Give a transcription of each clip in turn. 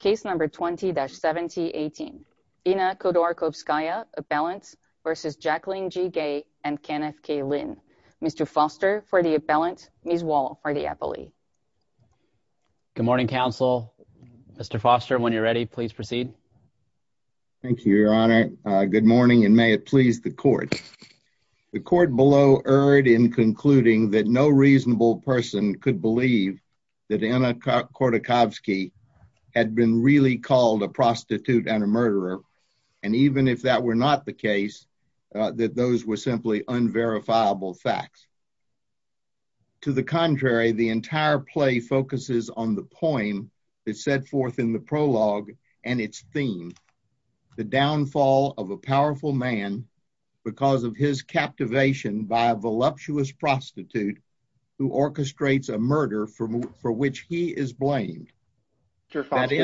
Case number 20-7018. Inna Khodorkovskaya appellant versus Jacquelyn Gay and Kenneth K. Lynn. Mr. Foster for the appellant, Ms. Wall for the appellee. Good morning counsel. Mr. Foster when you're ready please proceed. Thank you your honor. Good morning and may it please the court. The court below erred in concluding that no reasonable person could believe that Inna Khodorkovskaya had been really called a prostitute and a murderer and even if that were not the case that those were simply unverifiable facts. To the contrary the entire play focuses on the poem that's set forth in the prologue and its theme. The downfall of a powerful man because of his captivation by a voluptuous prostitute who orchestrates a murder for which he is blamed. Mr. Foster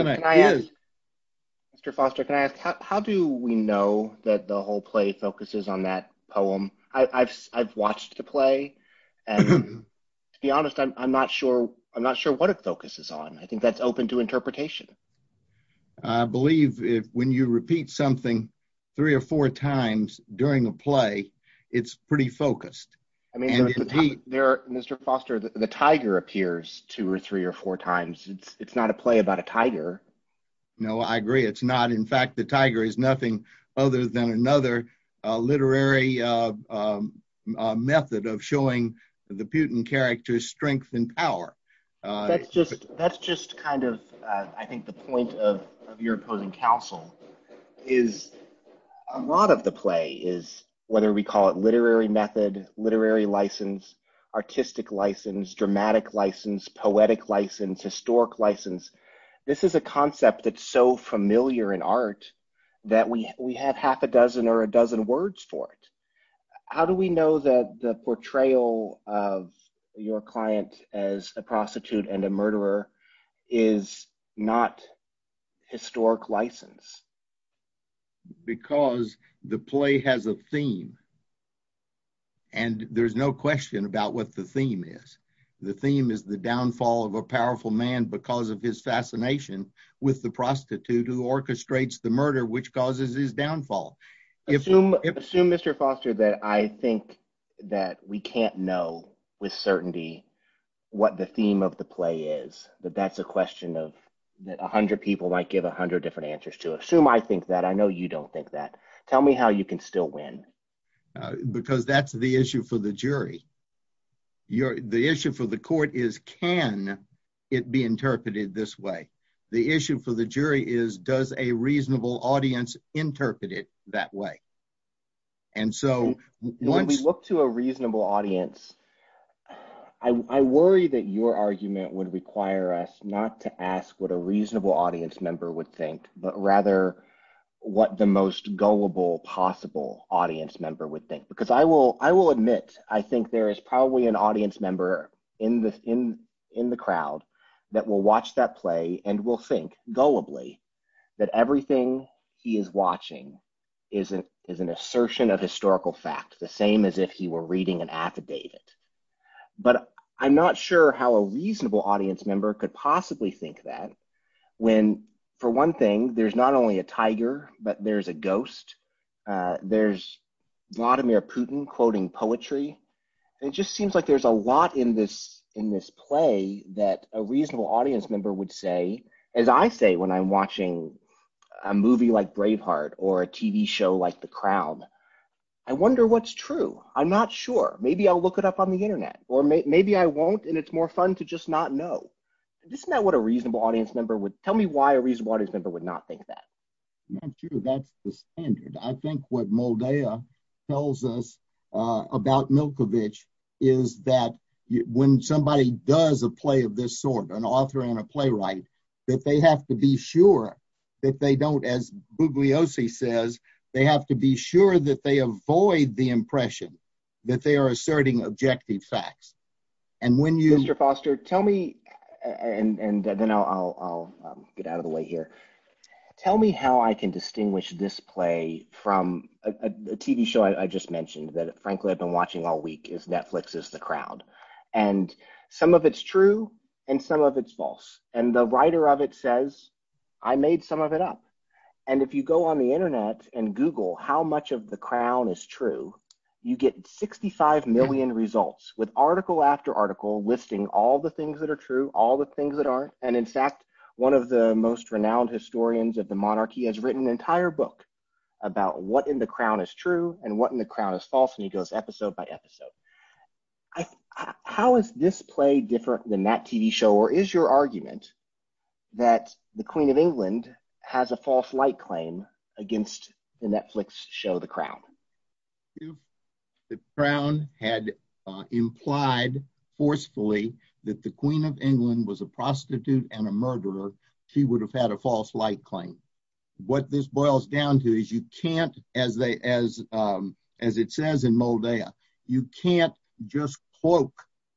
can I ask how do we know that the whole play focuses on that poem? I've watched the play and to be honest I'm not sure I'm not sure what it focuses on. I think that's open to interpretation. I believe if when you repeat something three or four times during a play it's pretty focused. Mr. Foster the tiger appears two or three or four times it's it's not a play about a tiger. No I agree it's not in fact the tiger is nothing other than another literary method of showing the Putin character strength and power. That's just kind of I think the point of your opposing counsel is a lot of the play is whether we call it literary method, literary license, artistic license, dramatic license, poetic license, historic license. This is a concept that's so familiar in art that we we had half a dozen or a dozen words for it. How do we know that the portrayal of your play has a historic license? Because the play has a theme and there's no question about what the theme is. The theme is the downfall of a powerful man because of his fascination with the prostitute who orchestrates the murder which causes his downfall. Assume Mr. Foster that I think that we can't know with certainty what the theme of the play is that that's a question of that a hundred people might give a hundred different answers to. Assume I think that I know you don't think that. Tell me how you can still win. Because that's the issue for the jury. The issue for the court is can it be interpreted this way? The issue for the jury is does a reasonable audience interpret it that way? And so when we look to a reasonable audience I worry that your argument would require us not to ask what a reasonable audience member would think but rather what the most gullible possible audience member would think. Because I will admit I think there is probably an audience member in the crowd that will watch that play and will think gullibly that everything he is watching is an assertion of historical fact. The same as if he were reading an affidavit. But I'm not sure how a reasonable audience member could possibly think that when for one thing there's not only a tiger but there's a ghost. There's Vladimir Putin quoting poetry. It just seems like there's a lot in this in this play that a reasonable audience member would say as I say when I'm watching a movie like Braveheart or a TV show like The Crown. I wonder what's true. I'm not sure. Maybe I'll look it up on the internet or maybe I won't and it's more fun to just not know. Isn't that what a reasonable audience member would tell me why a reasonable audience member would not think that? That's the standard. I think what Moldea tells us about Milkovich is that when somebody does a play of this sort an author and a playwright that they have to be sure that they don't as Bugliosi says they have to be sure that they avoid the impression that they are asserting objective facts and when you... Mr. Foster tell me and then I'll get out of the way here. Tell me how I can distinguish this play from a TV show I just mentioned that frankly I've been watching all week is Netflix's The Crown and some of its true and some of its false and the writer of it says I made some of it up and if you go on the internet and Google how much of The Crown is true and what in The Crown is false and he goes episode by episode. How is this play different than that TV show or is your argument that the Queen of England has a false light claim against the Netflix show The Crown? The Crown had implied forcefully that the Queen of England was a prostitute and a murderer. She would have had a false light claim. What this boils down to is you can't as they as as it says in Moldea you can't just cloak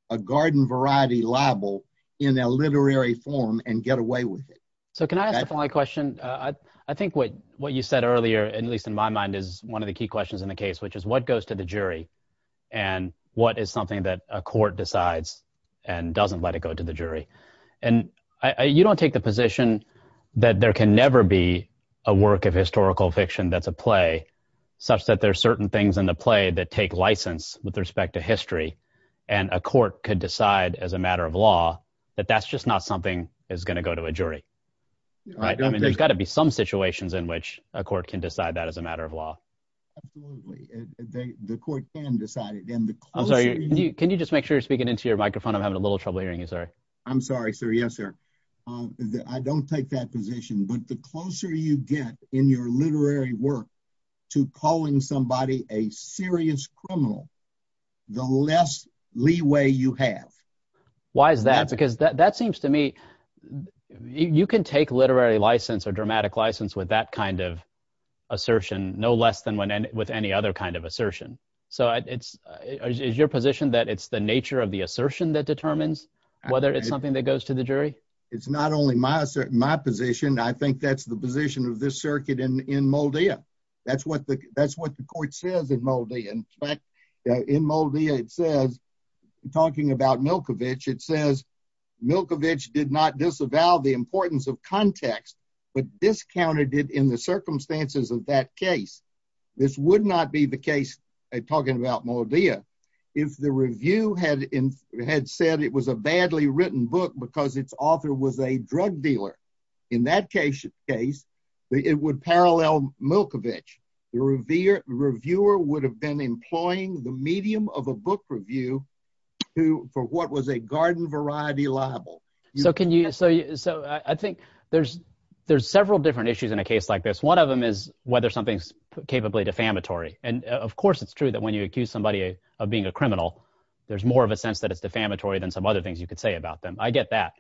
a garden variety libel in a literary form and get away with it. So can I ask a question? I think what what you said earlier and at least in my mind is one of the key questions in the case which is what goes to the jury and what is something that a court decides and doesn't let it go to the jury and you don't take the position that there can never be a work of historical fiction that's a play such that there are certain things in the play that take license with respect to history and a court could decide as a matter of law that that's just not something is going to go to a jury. There's got to be some situations in which a court can decide that as a matter of law. Can you just make sure you're speaking into your microphone I'm having a little trouble hearing you sorry. I'm sorry sir yes sir. I don't take that position but the closer you get in your literary work to calling somebody a serious criminal the less leeway you have. Why is that? Because that seems to me you can take literary license or dramatic license with that kind of assertion no less than with any other kind of assertion. So it's is your position that it's the nature of the assertion that determines whether it's something that goes to the jury? It's not only my assert my position I think that's the position of this circuit in in Moldea. That's what the that's what the court says in Moldea. In fact in Moldea it says talking about Milkovich it says Milkovich did not disavow the importance of context but discounted it in the circumstances of that case. This would not be the case talking about Moldea if the review had in had said it was a badly written book because its author was a drug dealer. In that case it would parallel Milkovich. The reviewer would have been employing the medium of a book review who for what was a garden variety libel. So can you so so I think there's there's several different issues in a case like this one of them is whether something's capably defamatory and of course it's true that when you accuse somebody of being a criminal there's more of a sense that it's defamatory than some other things you could say about them. I get that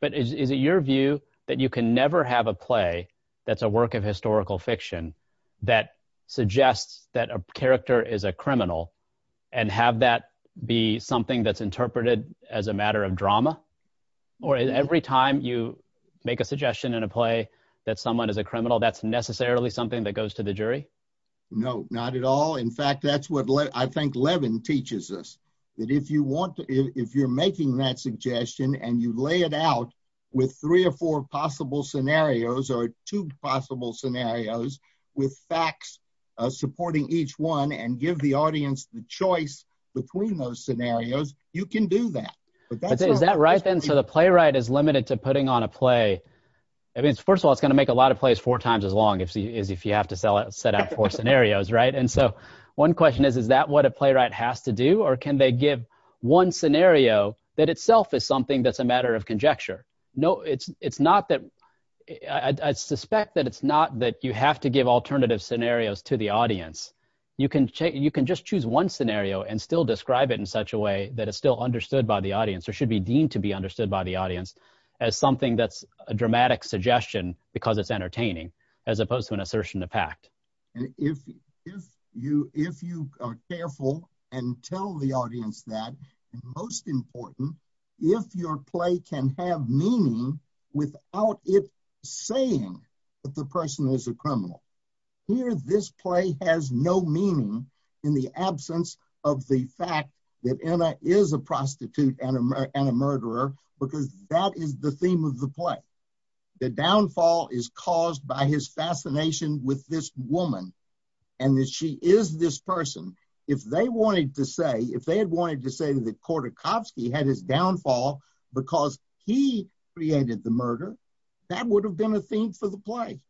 but is it your view that you can never have a play that's a work of historical fiction that suggests that a character is a criminal and have that be something that's interpreted as a matter of drama or every time you make a suggestion in a play that someone is a criminal that's necessarily something that goes to the jury? No not at all in fact that's what I think Levin teaches us that if you want if you're making that suggestion and you lay it out with three or four possible scenarios or two possible scenarios with facts supporting each one and give the audience the choice between those scenarios you can do that. Is that right then so the playwright is limited to putting on a play I mean first of all it's gonna make a lot of plays four times as long as if you have to sell it set out four scenarios right and so one question is is that what a playwright has to do or can they give one scenario that itself is something that's a matter of conjecture? No it's not that I suspect that it's not that you have to give alternative scenarios to the audience you can take you can just choose one scenario and still describe it in such a way that it's still understood by the audience or should be deemed to be understood by the audience as something that's a dramatic suggestion because it's entertaining as opposed to an assertion to pact. If you if you are careful and tell the audience that most important if your play can have meaning without it saying that the person is a criminal here this play has no meaning in the absence of the fact that Anna is a prostitute and a murderer because that is the theme of the play the downfall is caused by his fascination with this woman and that she is this person if they wanted to say if he created the murder that would have been a theme for the play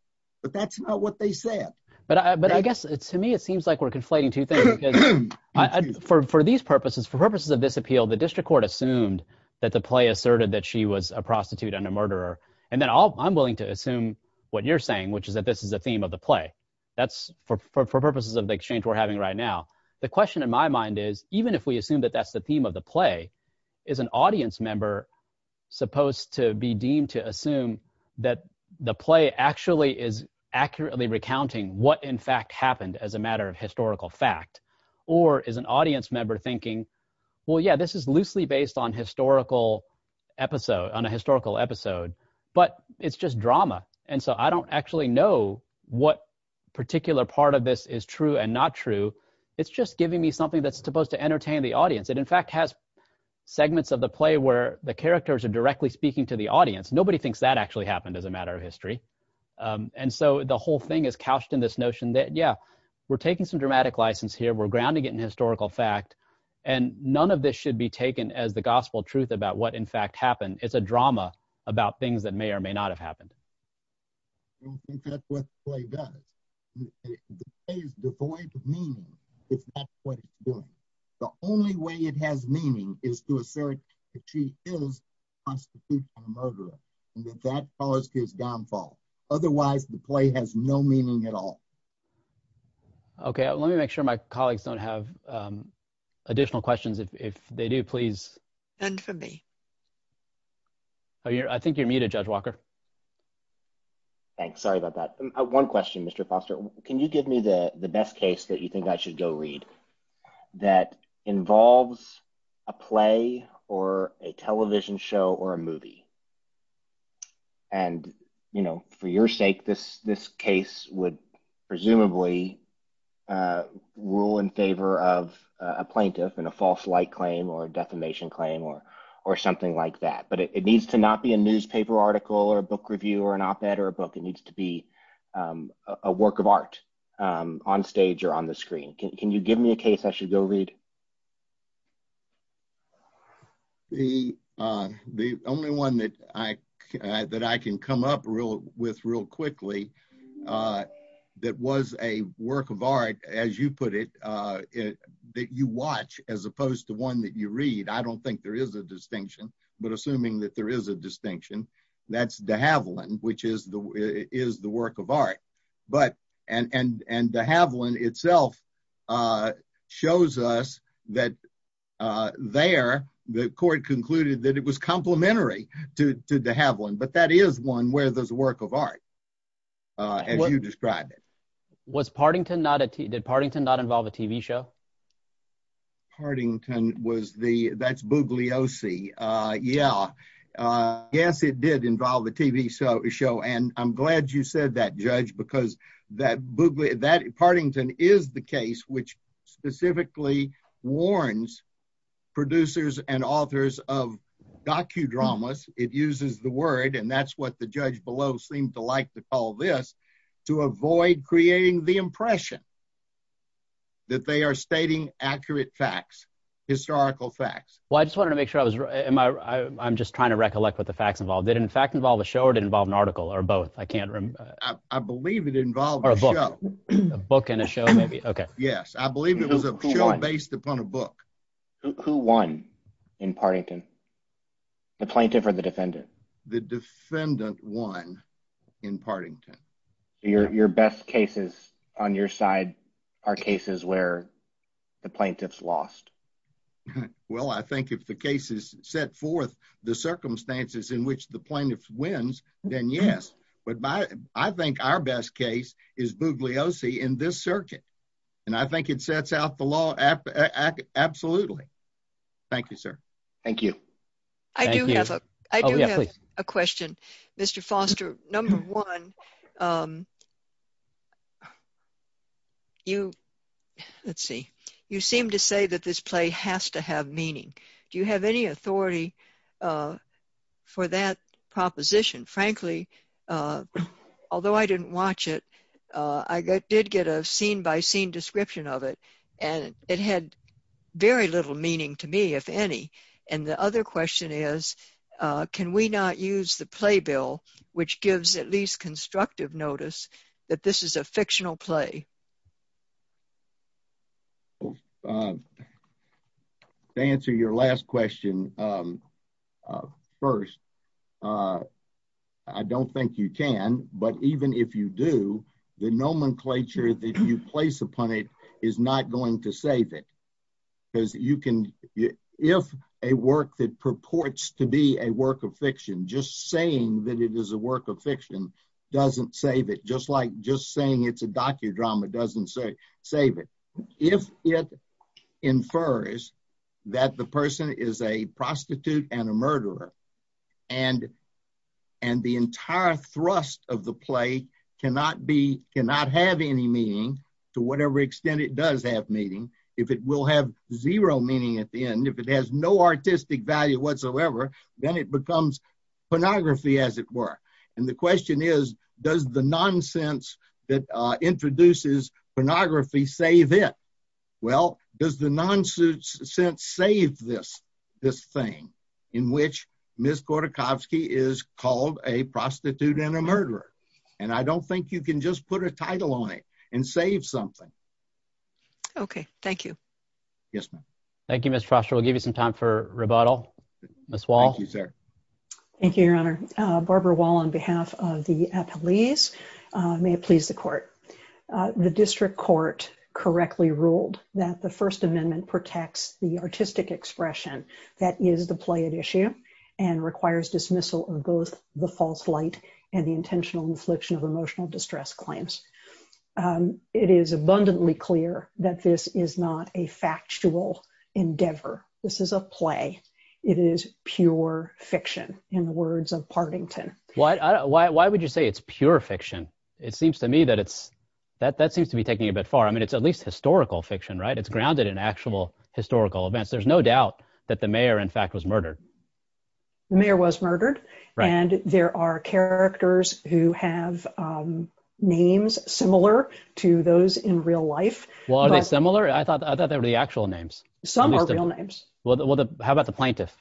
but that's not what they said. But I guess it's to me it seems like we're conflating two things for these purposes for purposes of this appeal the district court assumed that the play asserted that she was a prostitute and a murderer and then all I'm willing to assume what you're saying which is that this is a theme of the play that's for purposes of the exchange we're having right now the question in my mind is even if we assume that that's the theme of the play is an supposed to be deemed to assume that the play actually is accurately recounting what in fact happened as a matter of historical fact or is an audience member thinking well yeah this is loosely based on historical episode on a historical episode but it's just drama and so I don't actually know what particular part of this is true and not true it's just giving me something that's supposed to entertain the audience it in fact has segments of the play where the characters are directly speaking to the audience nobody thinks that actually happened as a matter of history and so the whole thing is couched in this notion that yeah we're taking some dramatic license here we're grounding it in historical fact and none of this should be taken as the gospel truth about what in fact happened it's a drama about things that may or may not have happened I don't think that's what the play does. The play is devoid of meaning if that's what it's doing. The only way it has meaning is to assert that she is a prostitute and a murderer and that that caused his downfall. Otherwise the play has no meaning at all. Okay let me make sure my colleagues don't have additional questions if they do please. None for me. I think you're muted Judge Walker. Thanks sorry about that. One question Mr. Foster can you give me the the best case that you think I should go read that involves a play or a television show or a movie and you know for your sake this this case would presumably rule in favor of a plaintiff in a false light claim or a defamation claim or or something like that but it needs to not be a newspaper article or a book review or an op-ed or a book it needs to be a work of art on stage or on the screen. Can you give me a case I should go read? The only one that I that I can come up real with real quickly that was a work of art as you put it it that you watch as opposed to one that you read I don't think there is a distinction but assuming that there is a distinction that's de Havilland which is the is the work of art but and and and de Havilland itself shows us that there the court concluded that it was as you describe it. Was Partington not a TV did Partington not involve a TV show? Partington was the that's Bugliosi yeah yes it did involve the TV show and I'm glad you said that judge because that Bugli that Partington is the case which specifically warns producers and authors of docudramas it uses the word and that's what the judge below seemed to like to call this to avoid creating the impression that they are stating accurate facts historical facts. Well I just wanted to make sure I was am I I'm just trying to recollect what the facts involved did in fact involve a show or did involve an article or both I can't remember. I believe it involved a book and a show maybe okay yes I believe it was a show based upon a book. Who won in Partington the plaintiff or the defendant won in Partington? Your best cases on your side are cases where the plaintiff's lost. Well I think if the case is set forth the circumstances in which the plaintiff wins then yes but by I think our best case is Bugliosi in this circuit and I think it sets out the law absolutely. Thank you sir. Thank you. I do have a question. Mr. Foster number one you let's see you seem to say that this play has to have meaning do you have any authority for that proposition frankly although I didn't watch it I did get a scene-by-scene description of it and it had very little meaning to me if any and the other question is can we not use the playbill which gives at least constructive notice that this is a fictional play? To answer your last question first I don't think you can but even if you do the nomenclature that you place upon it is not going to save it because you can if a work that purports to be a work of fiction just saying that it is a work of fiction doesn't save it just like just saying it's a docudrama doesn't say save it if it infers that the person is a cannot have any meaning to whatever extent it does have meaning if it will have zero meaning at the end if it has no artistic value whatsoever then it becomes pornography as it were and the question is does the nonsense that introduces pornography save it? Well does the nonsense sense save this this thing in which Ms. Gordachovsky is called a prostitute and a murderer and I don't think you can just put a title on it and save something. Okay thank you. Yes ma'am. Thank you Mr. Foster. We'll give you some time for rebuttal. Ms. Wall. Thank you sir. Thank you your honor. Barbara Wall on behalf of the appellees. May it please the court. The district court correctly ruled that the First Amendment protects the artistic expression that is the play at issue and requires dismissal of both the false light and the intentional infliction of emotional distress claims. It is abundantly clear that this is not a factual endeavor. This is a play. It is pure fiction in the words of Partington. Why would you say it's pure fiction? It seems to me that it's that that seems to be taking a bit far. I mean it's grounded in actual historical events. There's no doubt that the mayor in fact was murdered. The mayor was murdered and there are characters who have names similar to those in real life. Well are they similar? I thought that they were the actual names. Some are real names. Well how about the plaintiff?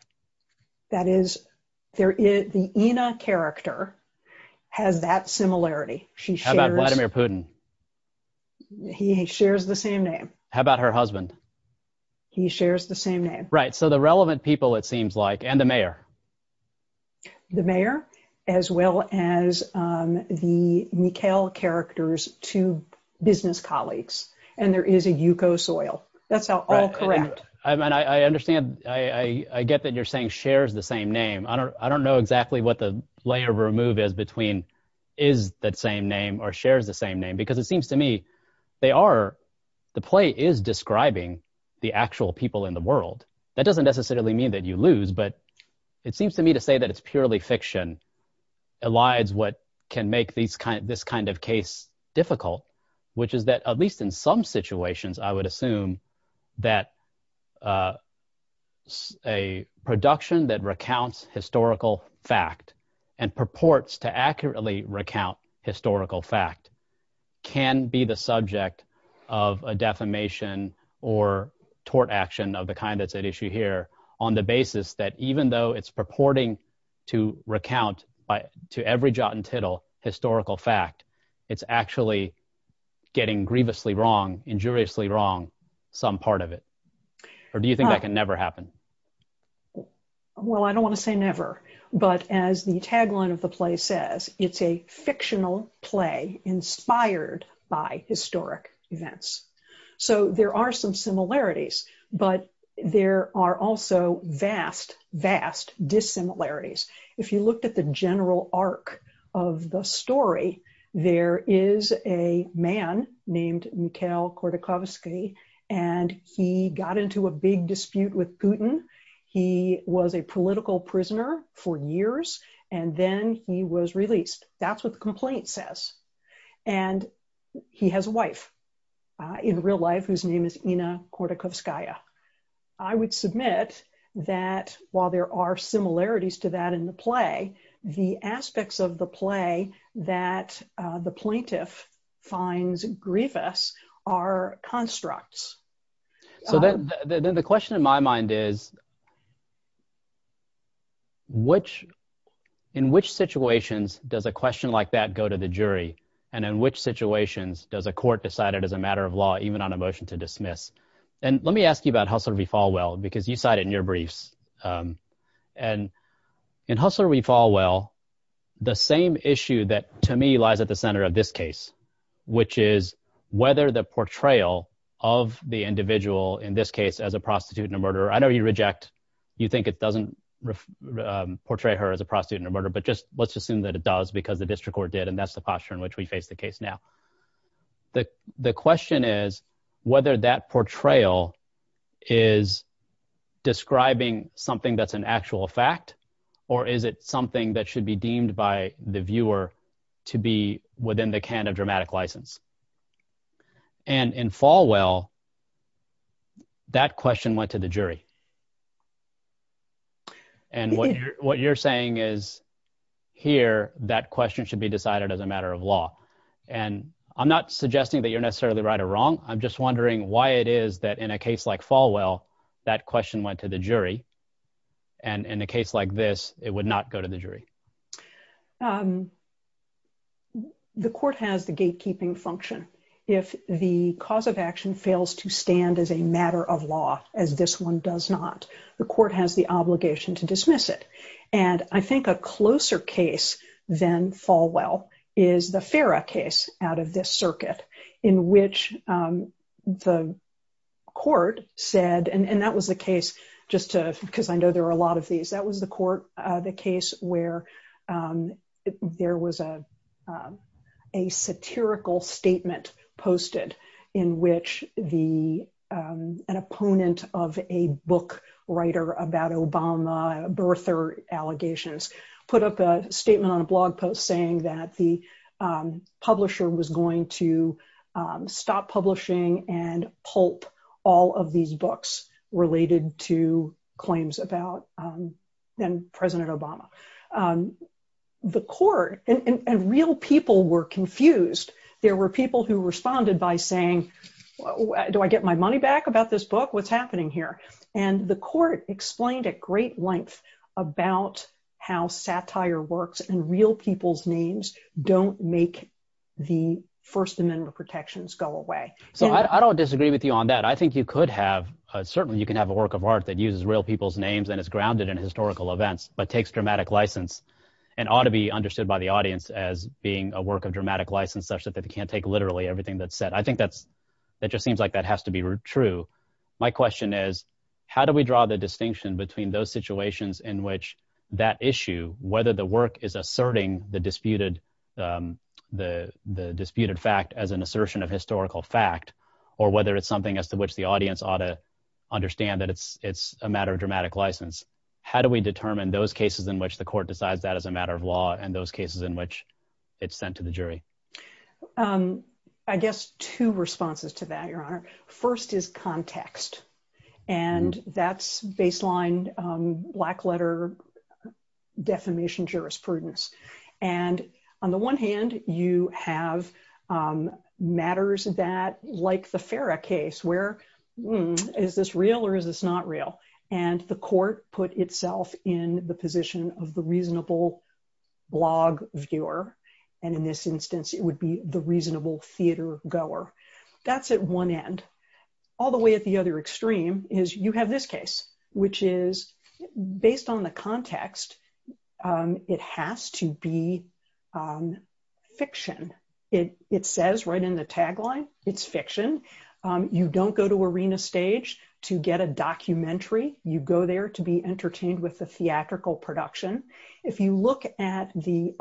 That is there is the Ina character has that similarity. How about Vladimir Putin? He shares the same name. How about her husband? He shares the same name. Right so the relevant people it seems like and the mayor. The mayor as well as the Mikhail characters two business colleagues and there is a Yuko Soil. That's how all correct. I mean I understand I I get that you're saying shares the same name. I don't I don't know exactly what the layer of remove is between is that same name or shares the same name because it seems to me they are the play is describing the actual people in the world. That doesn't necessarily mean that you lose but it seems to me to say that it's purely fiction allies what can make these kind of this kind of case difficult which is that at least in some situations I would assume that a production that recounts historical fact and purports to accurately recount historical fact can be the subject of a defamation or tort action of the kind that's at issue here on the basis that even though it's purporting to recount by to every jot and tittle historical fact it's actually getting grievously wrong injuriously wrong some part of it or do you think that can never happen? Well I don't want to say never but as the tagline of the play says it's a fictional play inspired by historic events. So there are some similarities but there are also vast vast dissimilarities. If you looked at the general arc of the story there is a man named Mikhail Khodorkovsky and he got into a big dispute with Putin. He was a and then he was released. That's what the complaint says and he has a wife in real life whose name is Ina Khodorkovskaya. I would submit that while there are similarities to that in the play the aspects of the play that the plaintiff finds grievous are constructs. So then the question in my mind is which in which situations does a question like that go to the jury and in which situations does a court decide it as a matter of law even on a motion to dismiss? And let me ask you about Hustler v. Falwell because you cite it in your briefs and in Hustler v. Falwell the same issue that to me lies at the center of this case which is whether the portrayal of the individual in this case as a prostitute and a murderer. I know you reject you think it doesn't portray her as a prostitute and a murderer but just let's assume that it does because the district court did and that's the posture in which we face the case now. The the question is whether that portrayal is describing something that's an actual fact or is it something that should be deemed by the viewer to be within the can of dramatic license? And in Falwell that question went to the jury and what you're saying is here that question should be decided as a matter of law and I'm not suggesting that you're necessarily right or wrong I'm just wondering why it is that in a case like Falwell that question went to the jury and in a case like this it would not go to the jury. The court has the gatekeeping function if the cause of action fails to stand as a matter of law as this one does not the court has the obligation to dismiss it and I think a closer case than Falwell is the Farah case out of this circuit in which the court said and that was the case just to because I know there are a lot of these that was the court the case where there was a a satirical statement posted in which the an opponent of a book writer about Obama birther allegations put up a statement on a blog post saying that the publisher was going to stop publishing and pulp all of these books related to claims about then President Obama the court and real people were confused there were people who responded by saying do I get my money back about this book what's happening here and the court explained at great length about how satire works and real people's names don't make the First Amendment protections go away so I don't disagree with you on that I think you could have certainly you can have a work of art that uses real people's names and it's grounded in historical events but takes dramatic license and ought to be understood by the audience as being a work of dramatic license such that they can't take literally everything that's said I think that's that just seems like that has to be true my question is how do we draw the distinction between those situations in which that issue whether the work is asserting the disputed the the disputed fact as an assertion of historical fact or whether it's something as to which the audience ought to understand that it's it's a matter of dramatic license how do we determine those cases in which the court decides that as a matter of law and those cases in which it's sent to the jury I guess two responses to that your honor first is context and that's baseline black-letter defamation jurisprudence and on the one hand you have matters that like the Farrah case where is this real or is this not real and the court put itself in the position of the reasonable blog viewer and in this instance it would be the reasonable theater goer that's at one end all the way at the other extreme is you have this case which is based on the context it has to be fiction it it says right in the tagline it's fiction you don't go to arena stage to get a documentary you go there to be entertained with the theatrical production if you look at the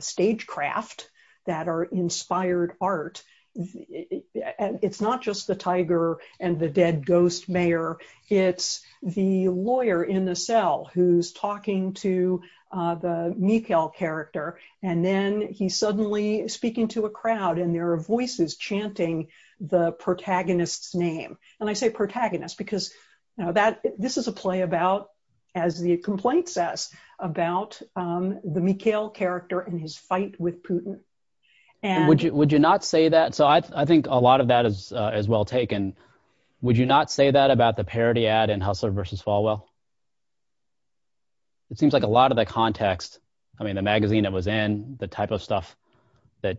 stagecraft that are inspired art and it's not just the tiger and the dead ghost mayor it's the lawyer in the cell who's talking to the Mikhail character and then he's suddenly speaking to a crowd and there are voices chanting the protagonist's name and I say protagonist because now that this is a play about as he complains us about the Mikhail character in his fight with Putin and would you would you not say that so I think a lot of that is as well taken would you not say that about the parody ad and hustler versus Falwell it seems like a lot of the context I mean the magazine that was in the type of stuff that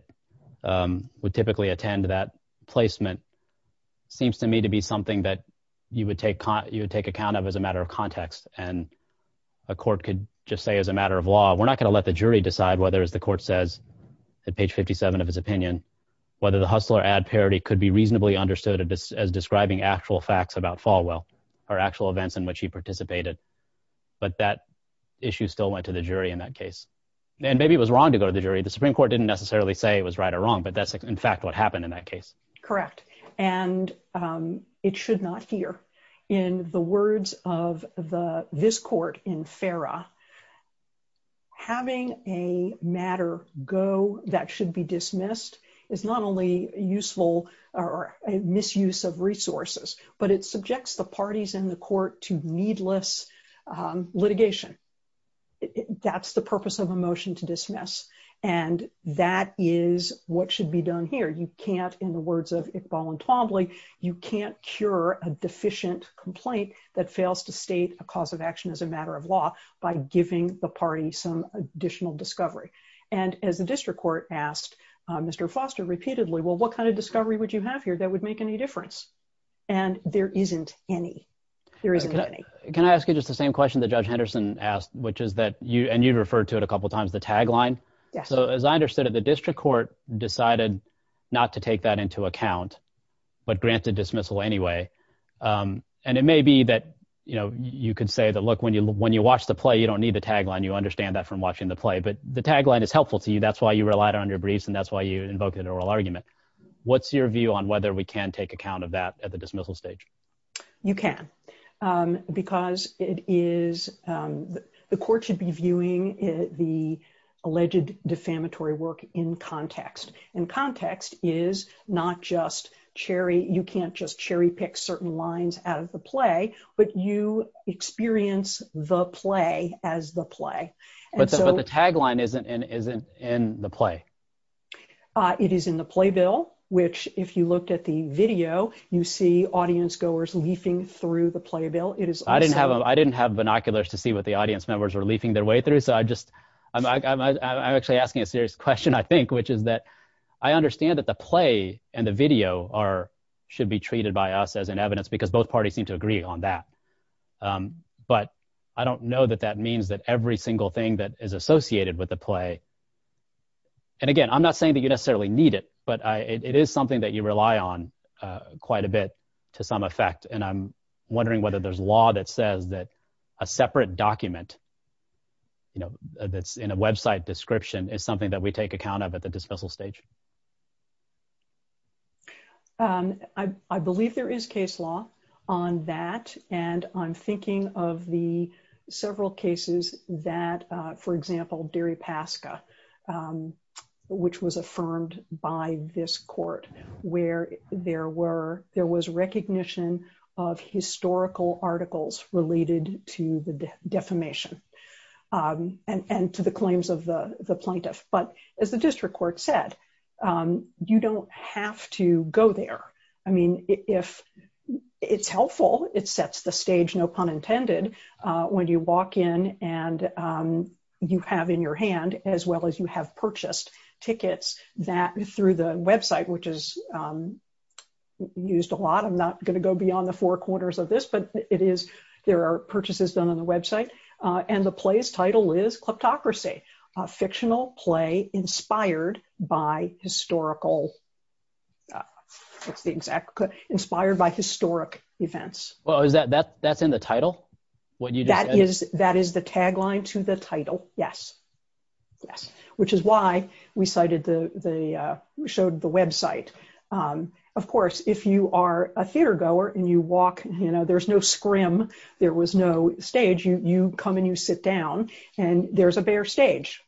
would typically attend that placement seems to me to be something that you would take you would take account of as a matter of context and a court could just say as a matter of law we're not gonna let the jury decide whether as the court says at page 57 of his opinion whether the hustler ad parody could be reasonably understood as describing actual facts about Falwell or actual events in which he participated but that issue still went to the jury in that case and maybe it was wrong to go to the jury the Supreme Court didn't necessarily say it was right or wrong but that's in fact what happened in that correct and it should not hear in the words of the this court in Farah having a matter go that should be dismissed is not only useful or a misuse of resources but it subjects the parties in the court to needless litigation that's the purpose of a motion to dismiss and that is what should be done here you can't in the words of Iqbal and Twombly you can't cure a deficient complaint that fails to state a cause of action as a matter of law by giving the party some additional discovery and as the district court asked mr. Foster repeatedly well what kind of discovery would you have here that would make any difference and there isn't any there isn't any can I ask you just the same question the judge Henderson asked which is that you and you referred to it a couple times the tagline so as I understood it the district court decided not to take that into account but granted dismissal anyway and it may be that you know you could say that look when you when you watch the play you don't need the tagline you understand that from watching the play but the tagline is helpful to you that's why you relied on your briefs and that's why you invoked an oral argument what's your view on whether we can take account of that at the dismissal stage you can because it is the court should be viewing the alleged defamatory work in context and context is not just cherry you can't just cherry-pick certain lines out of the play but you experience the play as the play but the tagline isn't in isn't in the play it is in the playbill which if you looked at the video you see audience goers leafing through the playbill it is I didn't have I didn't have binoculars to see what the audience members were leafing their way through so I just I'm actually asking a serious question I think which is that I understand that the play and the video are should be treated by us as an evidence because both parties seem to agree on that but I don't know that that means that every single thing that is associated with the play and again I'm not saying that you necessarily need it but I it is something that you rely on quite a bit to some effect and I'm separate document you know that's in a website description is something that we take account of at the dismissal stage I believe there is case law on that and I'm thinking of the several cases that for example Derry Pasca which was affirmed by this court where there were there was recognition of historical articles related to the defamation and to the claims of the the plaintiff but as the district court said you don't have to go there I mean if it's helpful it sets the stage no pun intended when you walk in and you have in your hand as well as you have purchased tickets that through the website which is used a lot I'm not going to go beyond the four corners of this but it is there are purchases done on the website and the place title is kleptocracy a fictional play inspired by historical it's the exact inspired by historic events well is that that that's in the title what you that is that is the tagline to the title yes yes which is why we cited the the showed the website of course if you are a theatergoer and you walk you know there's no scrim there was no stage you you come and you sit down and there's a bare stage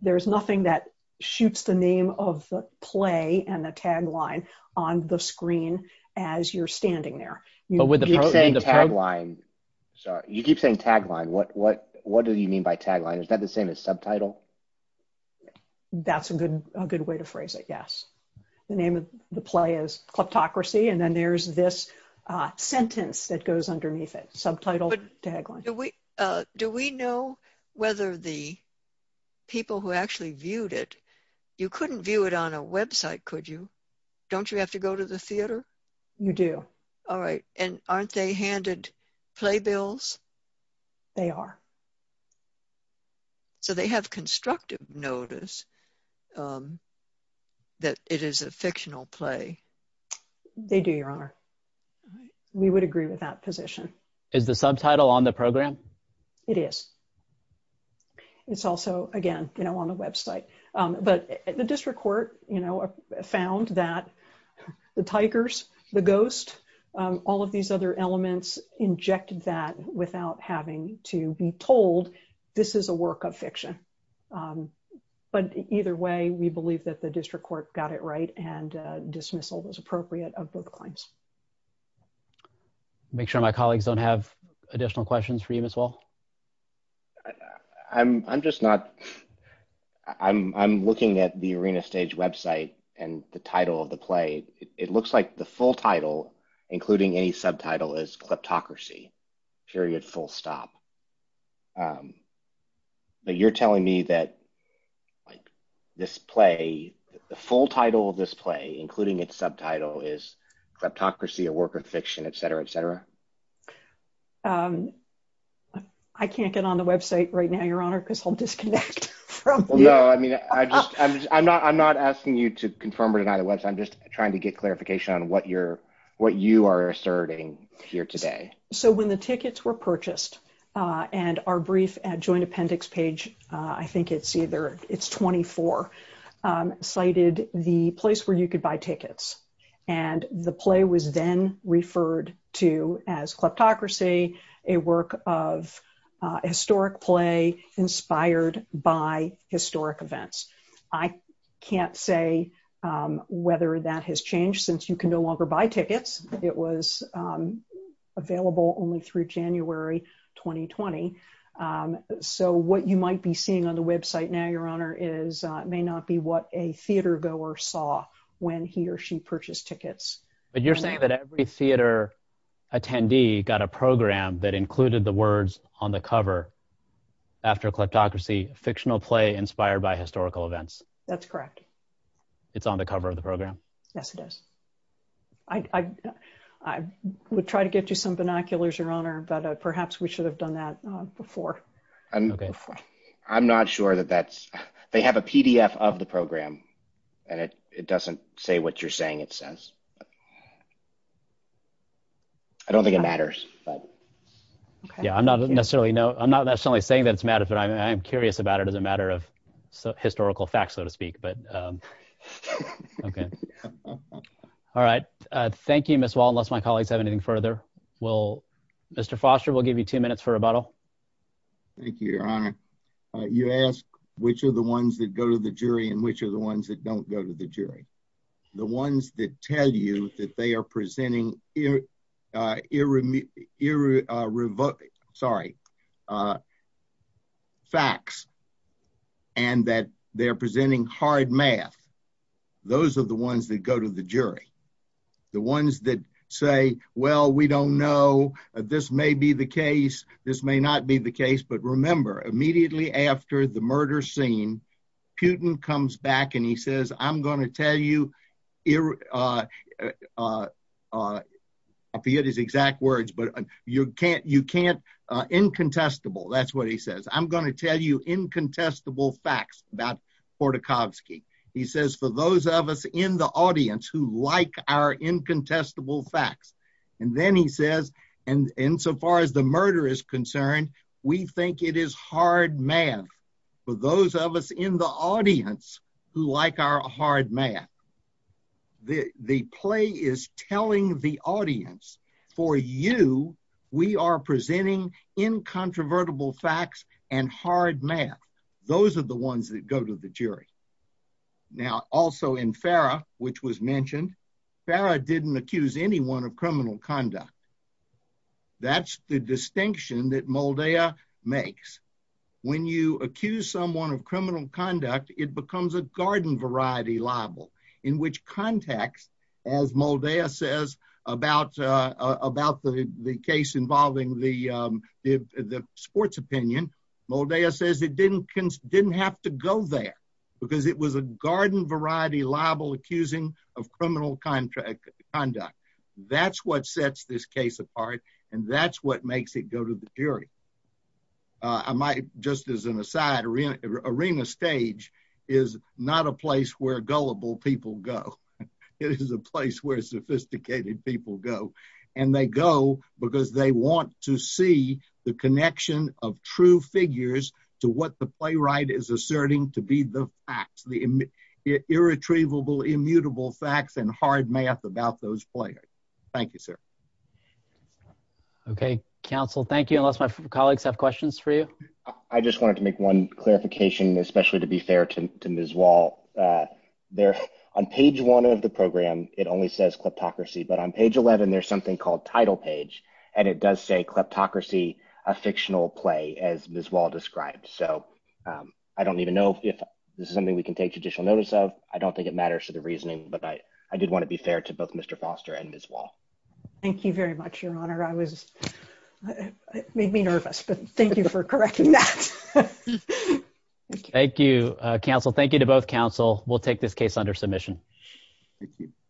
there's nothing that shoots the name of the play and the tagline on the screen as you're standing there but with the same the tagline so you keep saying tagline what what what do you mean by tagline is that the same as subtitle that's a good a good way to then there's this sentence that goes underneath it subtitle tagline do we do we know whether the people who actually viewed it you couldn't view it on a website could you don't you have to go to the theater you do all right and aren't they handed playbills they are so they have constructive notice that it is a fictional play they do your honor we would agree with that position is the subtitle on the program it is it's also again you know on the website but the district court you know found that the Tigers the ghost all of these other elements injected that without having to be told this is a work of fiction but either way we believe that the district court got it right and dismissal was appropriate of both claims make sure my colleagues don't have additional questions for you as well I'm just not I'm looking at the arena stage website and the title of the play it looks like the full title including any subtitle is this play the full title of this play including its subtitle is kleptocracy a work of fiction etc etc I can't get on the website right now your honor because I'll disconnect I'm not I'm not asking you to confirm or deny the website I'm just trying to get clarification on what you're what you are asserting here today so when the tickets were purchased and our brief at joint appendix page I think it's either it's 24 cited the place where you could buy tickets and the play was then referred to as kleptocracy a work of historic play inspired by historic events I can't say whether that has changed since you can no longer buy tickets it was available only through January 2020 so what you might be seeing on the website now your honor is may not be what a theater goer saw when he or she purchased tickets but you're saying that every theater attendee got a program that included the words on the cover after kleptocracy fictional play inspired by historical events that's correct it's on the cover of the program yes it is I would try to get you some binoculars your honor but perhaps we should have done that before I'm not sure that that's they have a PDF of the program and it it doesn't say what you're saying it says I don't think it matters but yeah I'm not necessarily no I'm not necessarily saying that it's matter but I'm curious about it as a matter of historical facts so to speak but okay all right thank you miss wall unless my colleagues have anything further well mr. Foster will give you two minutes for a bottle thank you your honor you ask which are the ones that go to the jury and which are the ones that don't go to the jury the ones that tell you that they are presenting irreverent sorry facts and that they're presenting hard math those are the ones that go to the jury the ones that say well we don't know this may be the case this may not be the case but remember immediately after the murder scene Putin comes back and he says I'm going to tell you I'll be at his exact words but you can't you can't incontestable that's what he says I'm going to tell you incontestable facts about Khodorkovsky he says for those of us in the audience who like our incontestable facts and then he says and insofar as the murder is concerned we think it is hard math for those of us in the audience who like our hard math the the play is telling the audience for you we are presenting incontrovertible facts and hard math those are the ones that go to the jury now also in Farah which was mentioned Farah didn't accuse anyone of criminal conduct that's the distinction that Moldea makes when you accuse someone of criminal conduct it becomes a garden variety libel in which context as Moldea says about about the the case involving the the sports opinion Moldea says it didn't didn't have to go there because it was a garden variety libel accusing of criminal contract conduct that's what sets this case apart and that's what makes it go to the jury I might just as an aside arena arena stage is not a place where gullible people go it is a place where sophisticated people go and they go because they want to see the connection of true figures to what the playwright is asserting to be the facts the irretrievable immutable facts and hard math about those players thank you sir okay counsel thank you unless my colleagues have questions for you I just wanted to make one clarification especially to be fair to miss wall there on page one of the program it only says kleptocracy but on page 11 there's something called title page and it does say kleptocracy a fictional play as miss wall described so I don't even know if this is something we can take judicial notice of I don't think it matters to the reasoning but I I did want to be fair to both mr. Foster and miss wall thank you very much your honor I was nervous but thank you for correcting that thank you counsel thank you to both counsel we'll take this case under submission